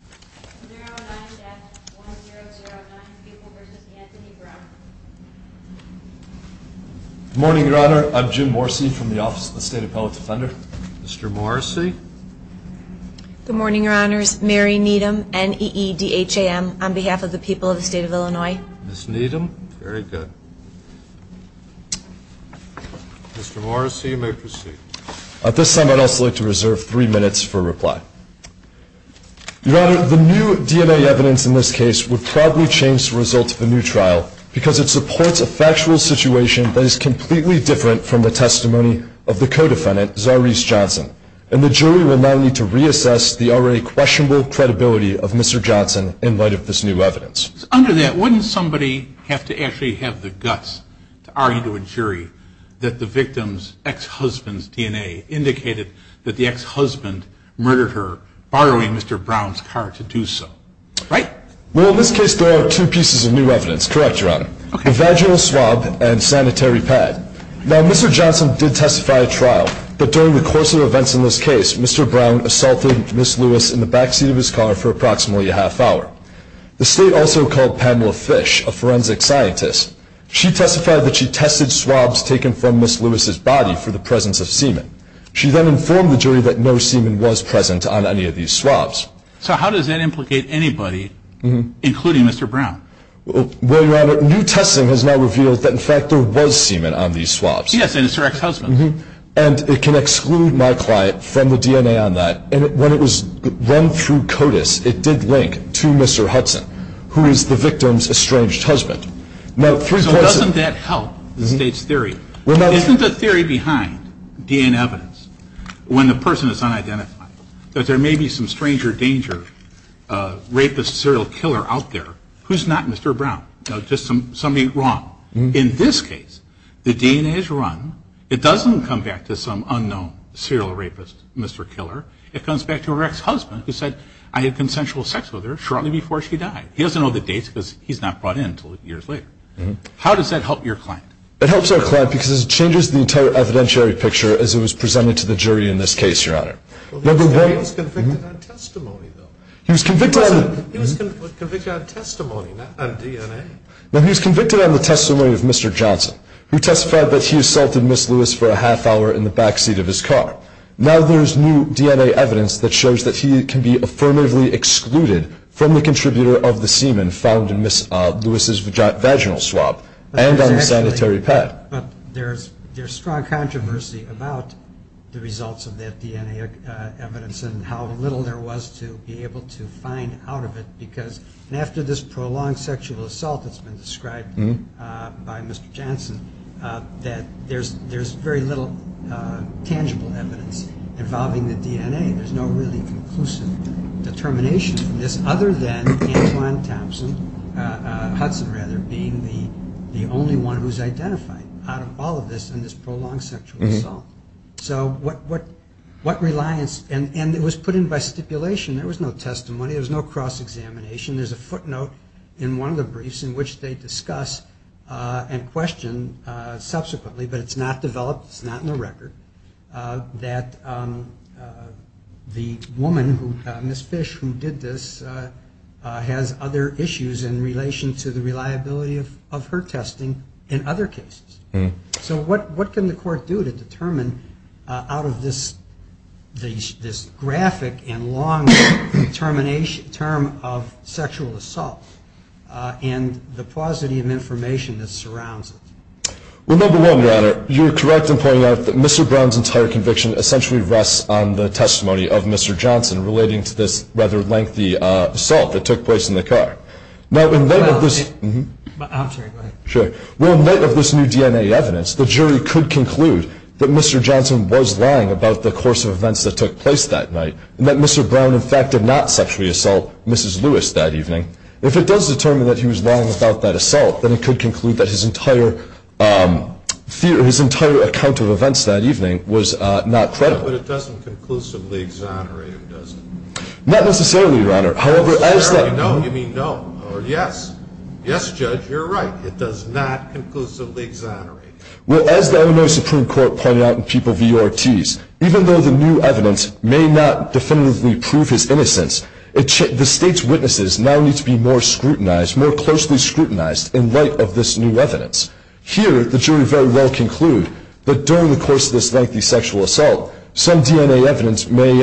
Good morning, Your Honor. I'm Jim Morrissey from the Office of the State Appellate Defender. Mr. Morrissey? Good morning, Your Honors. Mary Needham, N-E-E-D-H-A-M, on behalf of the people of the State of Illinois. Ms. Needham? Very good. Mr. Morrissey, you may proceed. At this time, I'd also like to reserve three minutes for reply. Your Honor, the new DNA evidence in this case would probably change the result of a new trial because it supports a factual situation that is completely different from the testimony of the co-defendant, Zarise Johnson. And the jury will not need to reassess the already questionable credibility of Mr. Johnson in light of this new evidence. Under that, wouldn't somebody have to actually have the guts to argue to a jury that the victim's ex-husband's DNA indicated that the ex-husband murdered her, borrowing Mr. Brown's car to do so? Right? Well, in this case, there are two pieces of new evidence. Correct, Your Honor. Okay. A vaginal swab and sanitary pad. Now, Mr. Johnson did testify at trial, but during the course of events in this case, Mr. Brown assaulted Ms. Lewis in the backseat of his car for approximately a half hour. The State also called Pamela Fish, a forensic scientist. She testified that she tested swabs taken from Ms. Lewis's body for the presence of semen. She then informed the jury that no semen was present on any of these swabs. So how does that implicate anybody, including Mr. Brown? Well, Your Honor, new testing has now revealed that, in fact, there was semen on these swabs. Yes, and it's her ex-husband. And it can exclude my client from the DNA on that. And when it was run through CODIS, it did link to Mr. Hudson, who is the victim's estranged husband. So doesn't that help the State's theory? Isn't the theory behind DNA evidence, when the person is unidentified, that there may be some stranger danger, rapist, serial killer out there? Who's not Mr. Brown? No, just somebody wrong. In this case, the DNA is run. It doesn't come back to some unknown serial rapist, Mr. Killer. It comes back to her ex-husband who said, I had consensual sex with her shortly before she died. He doesn't know the dates because he's not brought in until years later. How does that help your client? It helps our client because it changes the entire evidentiary picture, as it was presented to the jury in this case, Your Honor. He was convicted on testimony, though. He was convicted on testimony, not on DNA. He was convicted on the testimony of Mr. Johnson, who testified that he assaulted Ms. Lewis for a half hour in the backseat of his car. Now there's new DNA evidence that shows that he can be affirmatively excluded from the contributor of the semen found in Ms. Lewis' vaginal swab and on the sanitary pad. But there's strong controversy about the results of that DNA evidence and how little there was to be able to find out of it because, after this prolonged sexual assault that's been described by Mr. Johnson, that there's very little tangible evidence involving the DNA. There's no really conclusive determination from this other than Antoine Thompson, Hudson rather, being the only one who's identified out of all of this in this prolonged sexual assault. So what reliance, and it was put in by stipulation. There was no testimony. There was no cross-examination. There's a footnote in one of the briefs in which they discuss and question subsequently, but it's not developed, it's not in the record, that the woman, Ms. Fish, who did this, has other issues in relation to the reliability of her testing in other cases. So what can the court do to determine out of this graphic and long term of sexual assault and the paucity of information that surrounds it? Well, number one, Your Honor, you're correct in pointing out that Mr. Brown's entire conviction essentially rests on the testimony of Mr. Johnson relating to this rather lengthy assault that took place in the car. Now in light of this new DNA evidence, the jury could conclude that Mr. Johnson was lying about the course of events that took place that night, and that Mr. Brown in fact did not sexually assault Mrs. Lewis that evening. If it does determine that he was lying about that assault, then it could conclude that his entire account of events that evening was not credible. But it doesn't conclusively exonerate him, does it? Not necessarily, Your Honor. No, you mean no, or yes. Yes, Judge, you're right. It does not conclusively exonerate him. Well, as the Illinois Supreme Court pointed out in People v. Ortiz, even though the new evidence may not definitively prove his innocence, the state's witnesses now need to be more scrutinized, more closely scrutinized in light of this new evidence. Here the jury very well conclude that during the course of this lengthy sexual assault, some DNA evidence may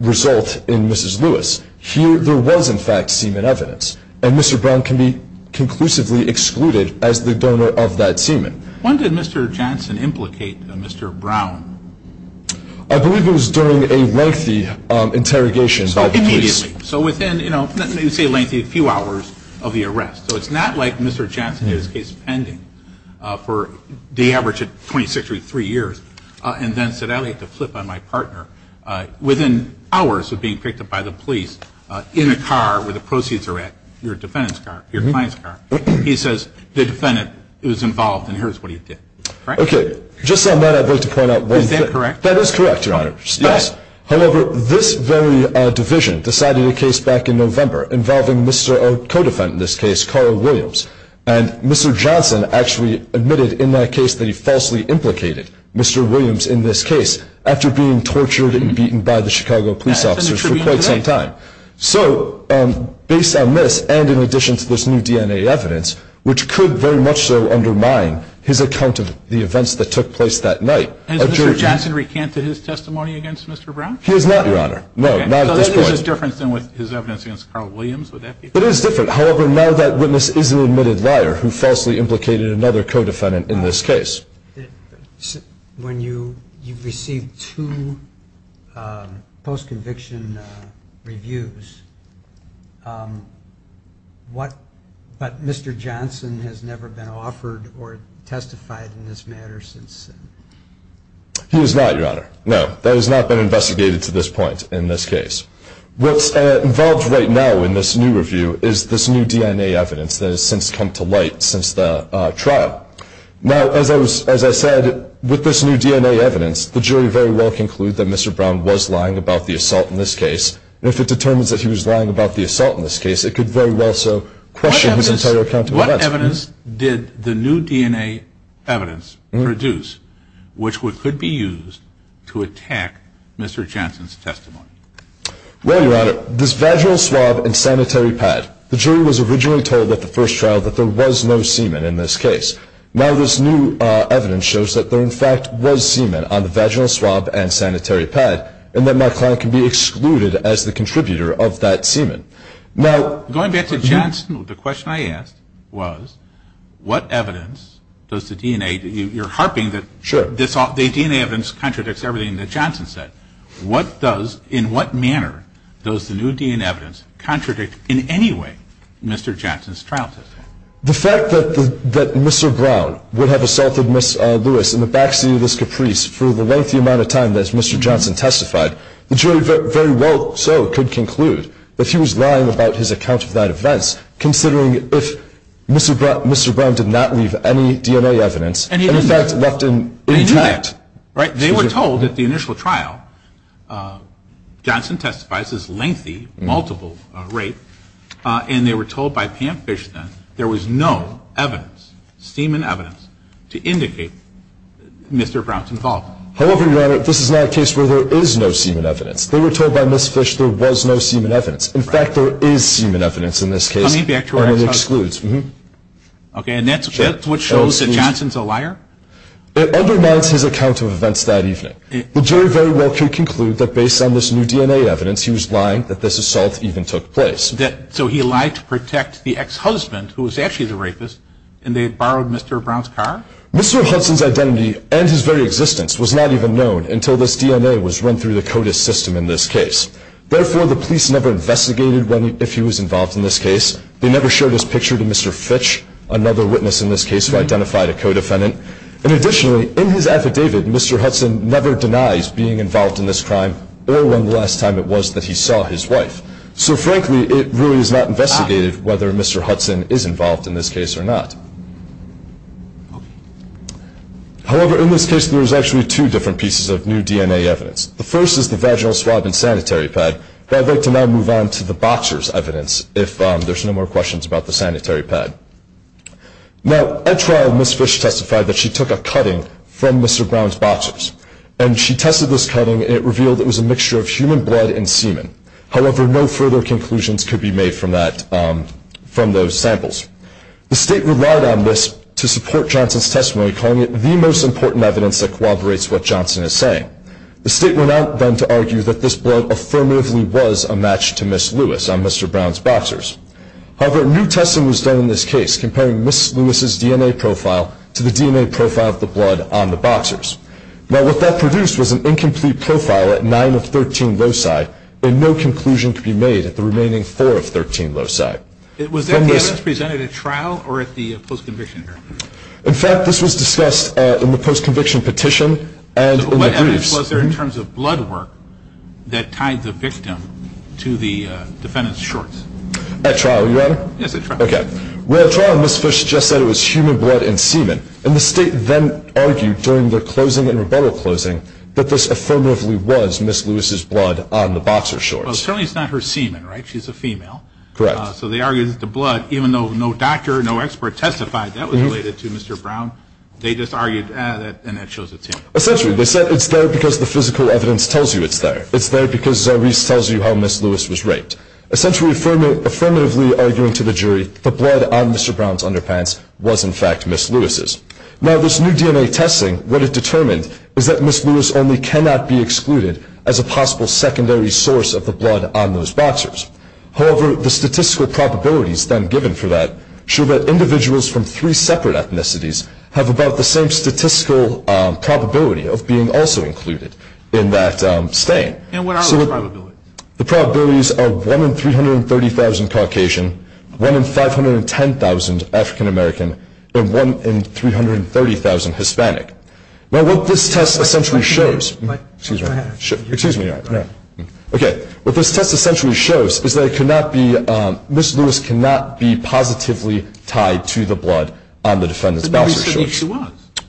result in Mrs. Lewis. Here there was in fact semen evidence, and Mr. Brown can be conclusively excluded as the donor of that semen. When did Mr. Johnson implicate Mr. Brown? I believe it was during a lengthy interrogation by the police. Immediately. So within, you know, let me say lengthy, a few hours of the arrest. So it's not like Mr. Johnson had his case pending for the average of 26 or 23 years and then said, I'd like to flip on my partner. Within hours of being picked up by the police in a car where the proceeds are at, your defendant's car, your client's car, he says the defendant was involved and here's what he did. Okay. Just on that I'd like to point out one thing. Is that correct? That is correct, Your Honor. Yes. However, this very division decided a case back in November involving Mr., our co-defendant in this case, Carl Williams, and Mr. Johnson actually admitted in that case that he falsely implicated Mr. Williams in this case after being tortured and beaten by the Chicago police officers for quite some time. So based on this and in addition to this new DNA evidence, which could very much so undermine his account of the events that took place that night. Has Mr. Johnson recanted his testimony against Mr. Brown? He has not, Your Honor. No, not at this point. So then there's a difference with his evidence against Carl Williams, would that be? It is different. However, now that witness is an admitted liar who falsely implicated another co-defendant in this case. When you received two post-conviction reviews, what, but Mr. Johnson has never been offered or testified in this matter since? He has not, Your Honor. No, that has not been investigated to this point in this case. What's involved right now in this new review is this new DNA evidence that has since come to light since the trial. Now, as I said, with this new DNA evidence, the jury very well conclude that Mr. Brown was lying about the assault in this case, and if it determines that he was lying about the assault in this case, it could very well so question his entire account of the events. What evidence did the new DNA evidence produce, which could be used to attack Mr. Johnson's testimony? Well, Your Honor, this vaginal swab and sanitary pad, the jury was originally told at the first trial that there was no semen in this case. Now this new evidence shows that there, in fact, was semen on the vaginal swab and sanitary pad, and that my client can be excluded as the contributor of that semen. Now, Going back to Johnson, the question I asked was what evidence does the DNA, you're harping that this DNA evidence contradicts everything that Johnson said. What does, in what manner, does the new DNA evidence contradict in any way Mr. Johnson's trial testimony? The fact that Mr. Brown would have assaulted Ms. Lewis in the backseat of this car, the fact that Mr. Johnson testified, the jury very well so could conclude that he was lying about his account of that events, considering if Mr. Brown did not leave any DNA evidence, and in fact left it intact. They knew that. Right? They were told at the initial trial, Johnson testifies as lengthy, multiple rape, and they were told by Pam Fish then there was no evidence, semen evidence, to indicate Mr. Brown's involvement. However, Your Honor, this is not a case where there is no semen evidence. They were told by Ms. Fish there was no semen evidence. In fact, there is semen evidence in this case, and it excludes. Okay, and that's what shows that Johnson's a liar? It undermines his account of events that evening. The jury very well could conclude that based on this new DNA evidence, he was lying that this assault even took place. So he lied to protect the ex-husband, who was actually the rapist, and they had borrowed Mr. Brown's car? Mr. Hudson's identity and his very existence was not even known until this DNA was run through the CODIS system in this case. Therefore, the police never investigated if he was involved in this case. They never showed his picture to Mr. Fitch, another witness in this case who identified a co-defendant. And additionally, in his affidavit, Mr. Hudson never denies being involved in this crime or when the last time it was that he saw his wife. So frankly, it really is not investigated whether Mr. Hudson is involved in this case or not. However, in this case, there's actually two different pieces of new DNA evidence. The first is the vaginal swab and sanitary pad, but I'd like to now move on to the boxer's evidence, if there's no more questions about the sanitary pad. Now, at trial, Ms. Fitch testified that she took a cutting from Mr. Brown's boxers, and she tested this cutting, and it revealed it was a mixture of human blood and semen. However, no further conclusions could be made from that, from those samples. The State relied on this to support Johnson's testimony, calling it the most important evidence that corroborates what Johnson is saying. The State went out then to argue that this blood affirmatively was a match to Ms. Lewis on Mr. Brown's boxers. However, new testing was done in this case, comparing Ms. Lewis's DNA profile to the DNA profile of the blood on the boxers. Now, what that produced was an incomplete profile at 9 of 13 loci, and no conclusion could be made at the remaining 4 of 13 loci. Was that evidence presented at trial or at the post-conviction hearing? In fact, this was discussed in the post-conviction petition and in the briefs. So what evidence was there in terms of blood work that tied the victim to the defendant's shorts? At trial, you got it? Yes, at trial. Okay. Well, at trial, Ms. Fitch just said it was human blood and semen, and the State then argued during their closing and rebuttal closing that this affirmatively was Ms. Lewis's blood on the boxer shorts. Well, apparently it's not her semen, right? She's a female. Correct. So they argued that the blood, even though no doctor, no expert testified, that was related to Mr. Brown, they just argued, and that shows it's him. Essentially, they said it's there because the physical evidence tells you it's there. It's there because Zarbis tells you how Ms. Lewis was raped. Essentially, affirmatively arguing to the jury, the blood on Mr. Brown's underpants was, in fact, Ms. Lewis's. Now, this new DNA testing, what it determined is that Ms. Lewis only cannot be excluded as a possible secondary source of the blood on those boxers. However, the statistical probabilities then given for that show that individuals from three separate ethnicities have about the same statistical probability of being also included in that stain. And what are those probabilities? The probabilities are 1 in 330,000 Caucasian, 1 in 510,000 African American, and 1 in 330,000 Hispanic. Now, what this test essentially shows, excuse me, okay, what this test essentially shows is that it cannot be, Ms. Lewis cannot be positively tied to the blood on the defendant's boxer shorts.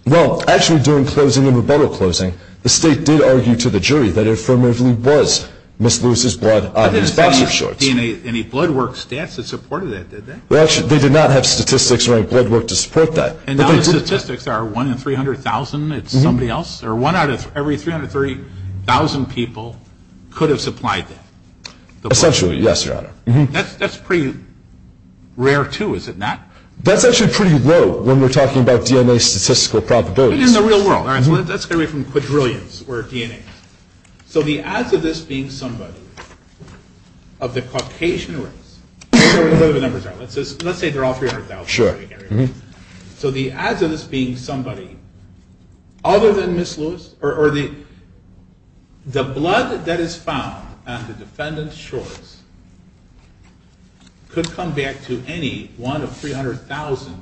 Well, actually during closing and rebuttal closing, the state did argue to the jury that it affirmatively was Ms. Lewis's blood on his boxer shorts. Any blood work stats that supported that, did they? Well, actually, they did not have statistics or any blood work to support that. And now the statistics are 1 in 300,000, it's somebody else? Or 1 out of every 330,000 people could have supplied that? Essentially, yes, Your Honor. That's pretty rare, too, is it not? That's actually pretty low when we're talking about DNA statistical probabilities. But in the real world, that's going to be from quadrillions worth of DNA. So the odds of this being somebody of the Caucasian race, whatever the numbers are, let's say they're all 300,000. So the odds of this being somebody other than Ms. Lewis, or the blood that is found on the defendant's shorts could come back to any one of 300,000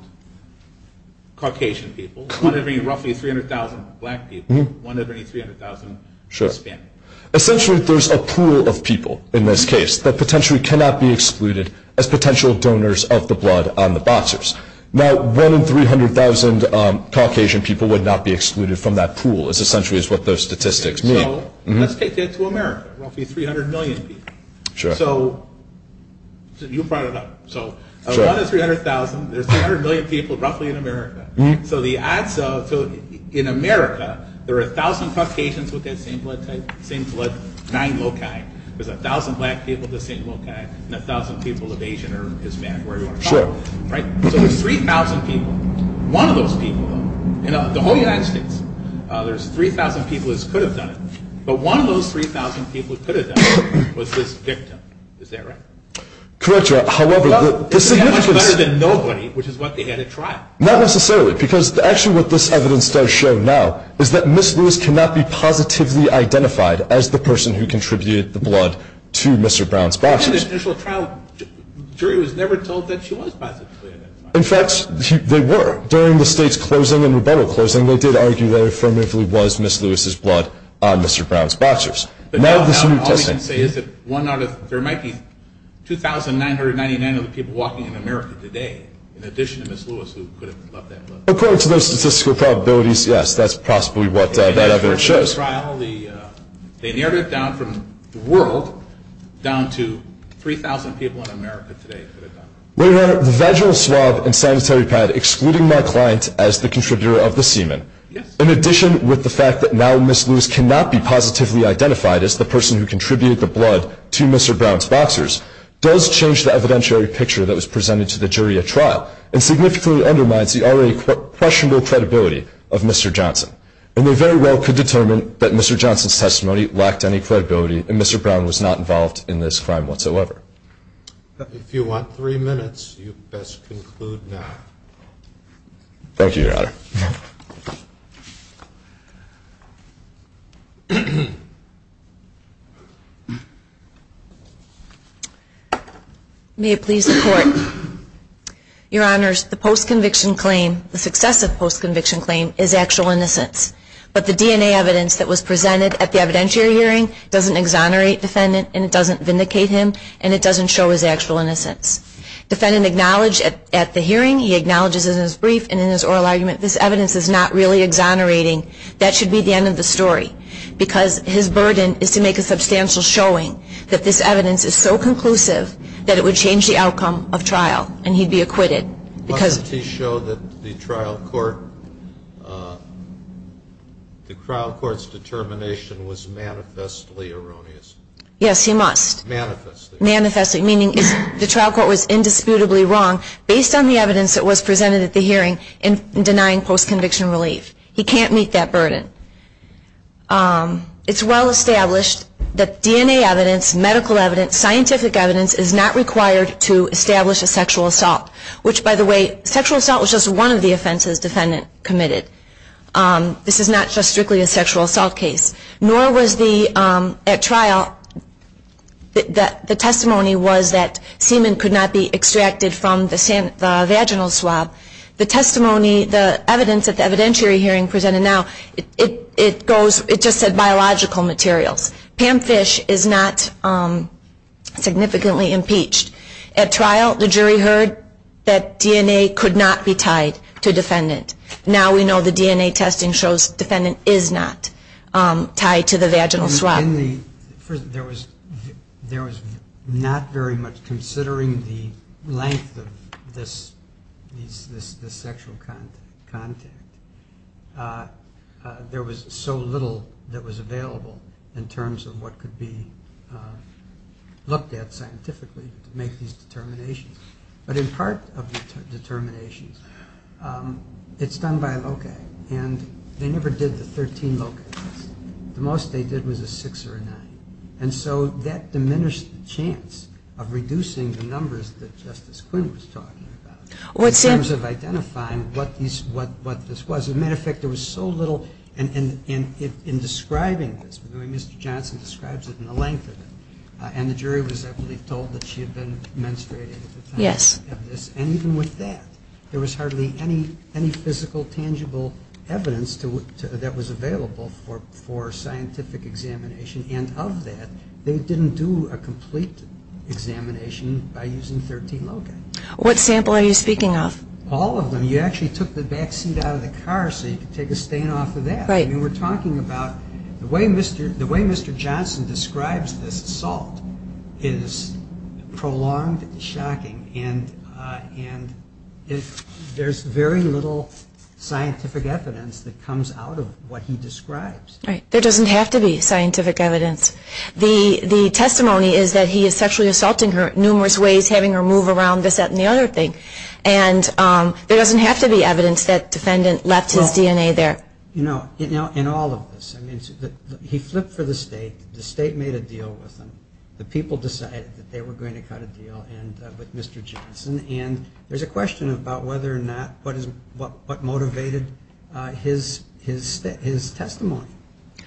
Caucasian people, one of any roughly 300,000 black people, one of any 300,000 Hispanic. Sure. Essentially, there's a pool of people in this case that potentially cannot be excluded as potential donors of the blood on the boxers. Now, one in 300,000 Caucasian people would not be excluded from that pool, is essentially what those statistics mean. So, let's take that to America, roughly 300 million people. Sure. So, you brought it up. So, one in 300,000, there's 300 million people roughly in America. So the odds of, in America, there are 1,000 Caucasians with that same blood type, same blood, nine loci, there's 1,000 black people with the same loci, and 1,000 people of Asian or Hispanic. Sure. Right? So, there's 3,000 people. One of those people, in the whole United States, there's 3,000 people who could have done it, but one of those 3,000 people who could have done it was this victim. Correct, Your Honor. However, the significance. Well, they had much better than nobody, which is what they had at trial. Not necessarily, because actually what this evidence does show now is that Miss Lewis cannot be positively identified as the person who contributed the blood to Mr. Brown's boxers. At the initial trial, the jury was never told that she was positively identified. In fact, they were. During the state's closing and rebuttal closing, they did argue that it affirmatively was Miss Lewis's blood on Mr. Brown's boxers. But now, all we can say is that one out of, there might be 2,999 other people walking in America today, in addition to Miss Lewis, who could have left that blood. According to those statistical probabilities, yes, that's possibly what that evidence shows. At the initial trial, they narrowed it down from the world, down to 3,000 people in America today. Your Honor, the vaginal swab and sanitary pad, excluding my client as the contributor of the semen, in addition with the fact that now Miss Lewis cannot be positively identified as the person who contributed the blood to Mr. Brown's boxers, does change the evidentiary picture that was presented to the jury at trial, and significantly undermines the already questionable credibility of Mr. Johnson. And they very well could determine that Mr. Johnson's testimony lacked any credibility, and Mr. Brown was not involved in this crime whatsoever. If you want three minutes, you best conclude now. Thank you, Your Honor. May it please the Court. Your Honors, the post-conviction claim, the successive post-conviction claim, is actual innocence. But the DNA evidence that was presented at the evidentiary hearing, doesn't exonerate defendant, and it doesn't vindicate him, and it doesn't show his actual innocence. Defendant acknowledged at the hearing, he acknowledges in his brief, and in his oral argument, this evidence is not really exonerating. That should be the end of the story. Because his burden is to make a substantial showing that this evidence is so conclusive that it would change the outcome of trial, and he'd be acquitted. Doesn't he show that the trial court, the trial court's determination was manifestly erroneous? Yes, he must. Manifestly. Manifestly, meaning the trial court was indisputably wrong, based on the evidence that was presented at the hearing, in denying post-conviction relief. He can't meet that burden. It's well established that DNA evidence, medical evidence, scientific evidence, is not required to establish a sexual assault. Which, by the way, sexual assault was just one of the offenses defendant committed. This is not just strictly a sexual assault case. Nor was the, at trial, the testimony was that semen could not be extracted from the vaginal swab. The testimony, the evidence at the evidentiary hearing presented now, it goes, it just said biological materials. Pam Fish is not significantly impeached. At trial, the jury heard that DNA could not be tied to defendant. Now we know the DNA testing shows defendant is not tied to the vaginal swab. There was not very much, considering the length of this sexual contact, there was so little that was available in terms of what could be looked at scientifically to make these determinations. But in part of the determinations, it's done by a locale. And they never did the 13 locales. The most they did was a six or a nine. And so that diminished the chance of reducing the numbers that Justice Quinn was talking about. In terms of identifying what this was. As a matter of fact, there was so little in describing this. Mr. Johnson describes it in the length of it. And the jury was, I believe, told that she had been menstruating at the time of this. And even with that, there was hardly any physical tangible evidence that was available for scientific examination. And of that, they didn't do a complete examination by using 13 locales. What sample are you speaking of? All of them. You actually took the back seat out of the car so you could take a stain off of that. Right. I mean, we're talking about the way Mr. Johnson describes this assault is prolonged and shocking. And there's very little scientific evidence that comes out of what he describes. Right. There doesn't have to be scientific evidence. The testimony is that he is sexually assaulting her numerous ways, having her move around, this, that, and the other thing. And there doesn't have to be evidence that defendant left his DNA there. You know, in all of this, he flipped for the state. The state made a deal with him. The people decided that they were going to cut a deal with Mr. Johnson. And there's a question about whether or not what motivated his testimony.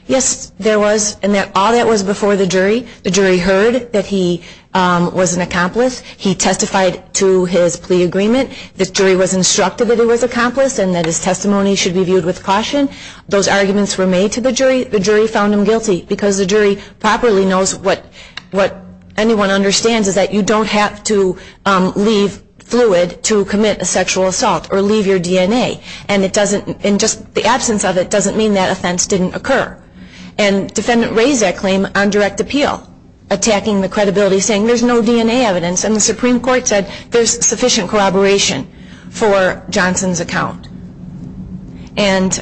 Yes, there was. And all that was before the jury. The jury heard that he was an accomplice. He testified to his plea agreement. The jury was instructed that he was an accomplice and that his testimony should be viewed with caution. Those arguments were made to the jury. The jury found him guilty because the jury properly knows what anyone understands is that you don't have to leave fluid to commit a sexual assault or leave your DNA. And just the absence of it doesn't mean that offense didn't occur. And defendant raised that claim on direct appeal, attacking the credibility, saying there's no DNA evidence. And the Supreme Court said there's sufficient corroboration for Johnson's account. And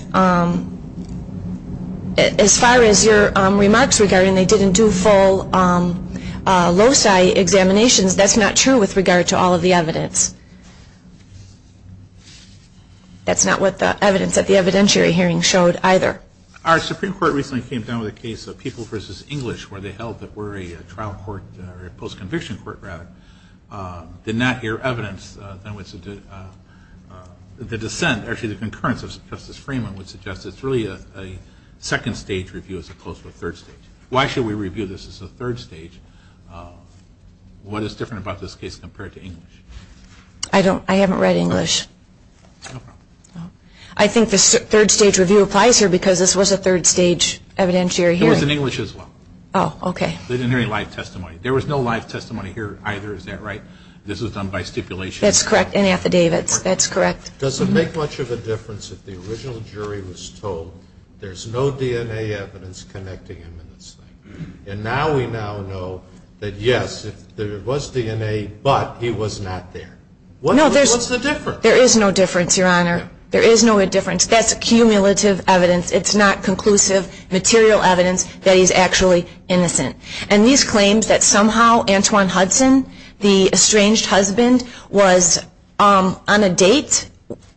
as far as your remarks regarding they didn't do full loci examinations, that's not true with regard to all of the evidence. That's not what the evidence at the evidentiary hearing showed either. Our Supreme Court recently came down with a case of People v. English where they held that we're a trial court, or a post-conviction court rather, did not hear evidence. The dissent, actually the concurrence of Justice Freeman would suggest it's really a second stage review as opposed to a third stage. Why should we review this as a third stage? What is different about this case compared to English? I haven't read English. No problem. I think the third stage review applies here because this was a third stage evidentiary hearing. It was in English as well. Oh, okay. They didn't hear any live testimony. There was no live testimony here either, is that right? This was done by stipulation. That's correct, in affidavits. That's correct. Does it make much of a difference if the original jury was told there's no DNA evidence connecting him in this thing? And now we now know that, yes, there was DNA, but he was not there. What's the difference? Look, there is no difference, Your Honor. There is no difference. That's accumulative evidence. It's not conclusive material evidence that he's actually innocent. And these claims that somehow Antwon Hudson, the estranged husband, was on a date,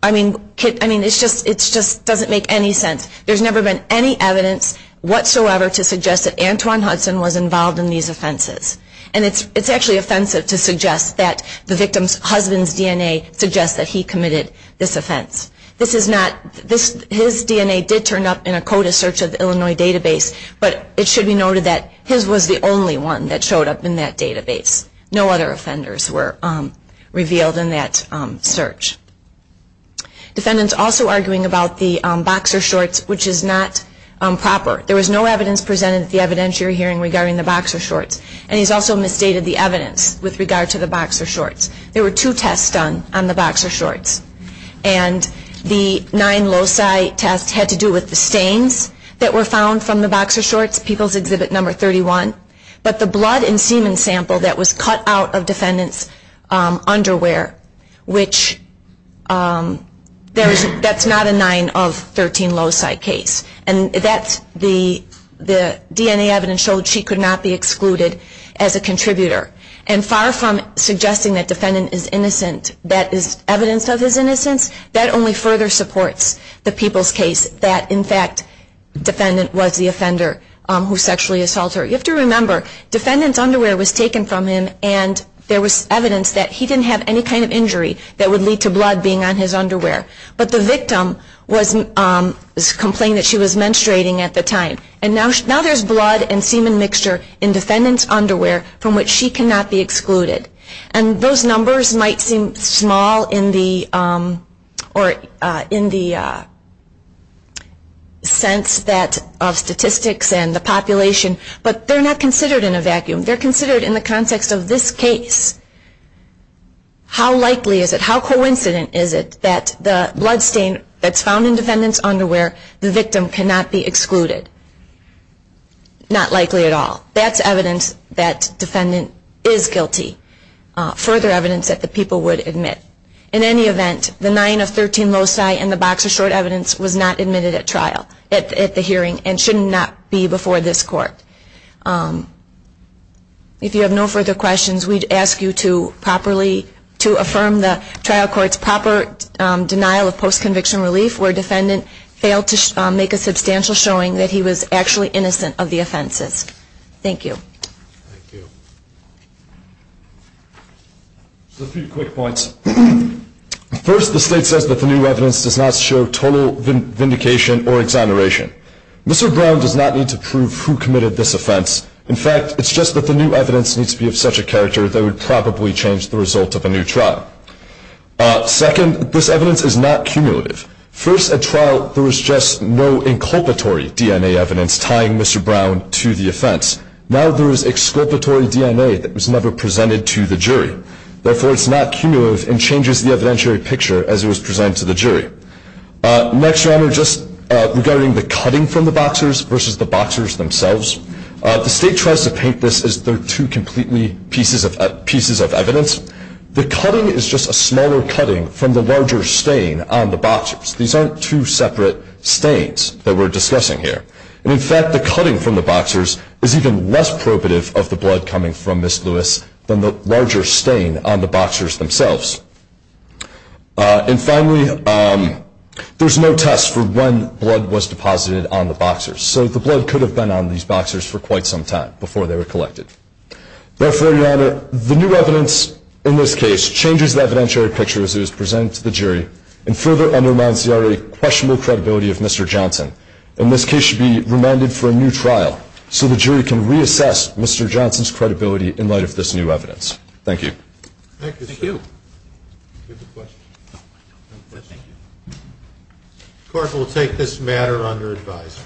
I mean, it just doesn't make any sense. There's never been any evidence whatsoever to suggest that Antwon Hudson was involved in these offenses. And it's actually offensive to suggest that the victim's husband's DNA suggests that he committed this offense. This is not his DNA did turn up in a CODA search of the Illinois database, but it should be noted that his was the only one that showed up in that database. No other offenders were revealed in that search. Defendants also arguing about the boxer shorts, which is not proper. There was no evidence presented at the evidentiary hearing regarding the boxer shorts. And he's also misstated the evidence with regard to the boxer shorts. There were two tests done on the boxer shorts. And the nine loci test had to do with the stains that were found from the boxer shorts, People's Exhibit Number 31. But the blood and semen sample that was cut out of defendant's underwear, which that's not a nine of 13 loci case. And that's the DNA evidence showed she could not be excluded as a contributor. And far from suggesting that defendant is innocent, that is evidence of his innocence, that only further supports the people's case that, in fact, defendant was the offender who sexually assaulted her. You have to remember, defendant's underwear was taken from him, and there was evidence that he didn't have any kind of injury that would lead to blood being on his underwear. But the victim was complaining that she was menstruating at the time. And now there's blood and semen mixture in defendant's underwear from which she cannot be excluded. And those numbers might seem small in the sense of statistics and the population, but they're not considered in a vacuum. They're considered in the context of this case. How likely is it, how coincident is it that the bloodstain that's found in defendant's underwear, the victim cannot be excluded? Not likely at all. That's evidence that defendant is guilty. Further evidence that the people would admit. In any event, the nine of 13 loci and the box of short evidence was not admitted at trial, at the hearing, and should not be before this court. If you have no further questions, we'd ask you to affirm the trial court's proper denial of post-conviction relief where defendant failed to make a substantial showing that he was actually innocent of the offenses. Thank you. Thank you. Just a few quick points. First, the state says that the new evidence does not show total vindication or exoneration. Mr. Brown does not need to prove who committed this offense. In fact, it's just that the new evidence needs to be of such a character that it would probably change the result of a new trial. Second, this evidence is not cumulative. First, at trial, there was just no inculpatory DNA evidence tying Mr. Brown to the offense. Now there is exculpatory DNA that was never presented to the jury. Therefore, it's not cumulative and changes the evidentiary picture as it was presented to the jury. Next, Your Honor, just regarding the cutting from the boxers versus the boxers themselves, the state tries to paint this as they're two completely pieces of evidence. The cutting is just a smaller cutting from the larger stain on the boxers. These aren't two separate stains that we're discussing here. In fact, the cutting from the boxers is even less probative of the blood coming from Ms. Lewis than the larger stain on the boxers themselves. And finally, there's no test for when blood was deposited on the boxers, so the blood could have been on these boxers for quite some time before they were collected. Therefore, Your Honor, the new evidence in this case changes the evidentiary picture as it was presented to the jury and further undermines the already questionable credibility of Mr. Johnson. And this case should be remanded for a new trial so the jury can reassess Mr. Johnson's credibility in light of this new evidence. Thank you. Thank you, sir. Thank you. Any other questions? No, thank you. The court will take this matter under advisory.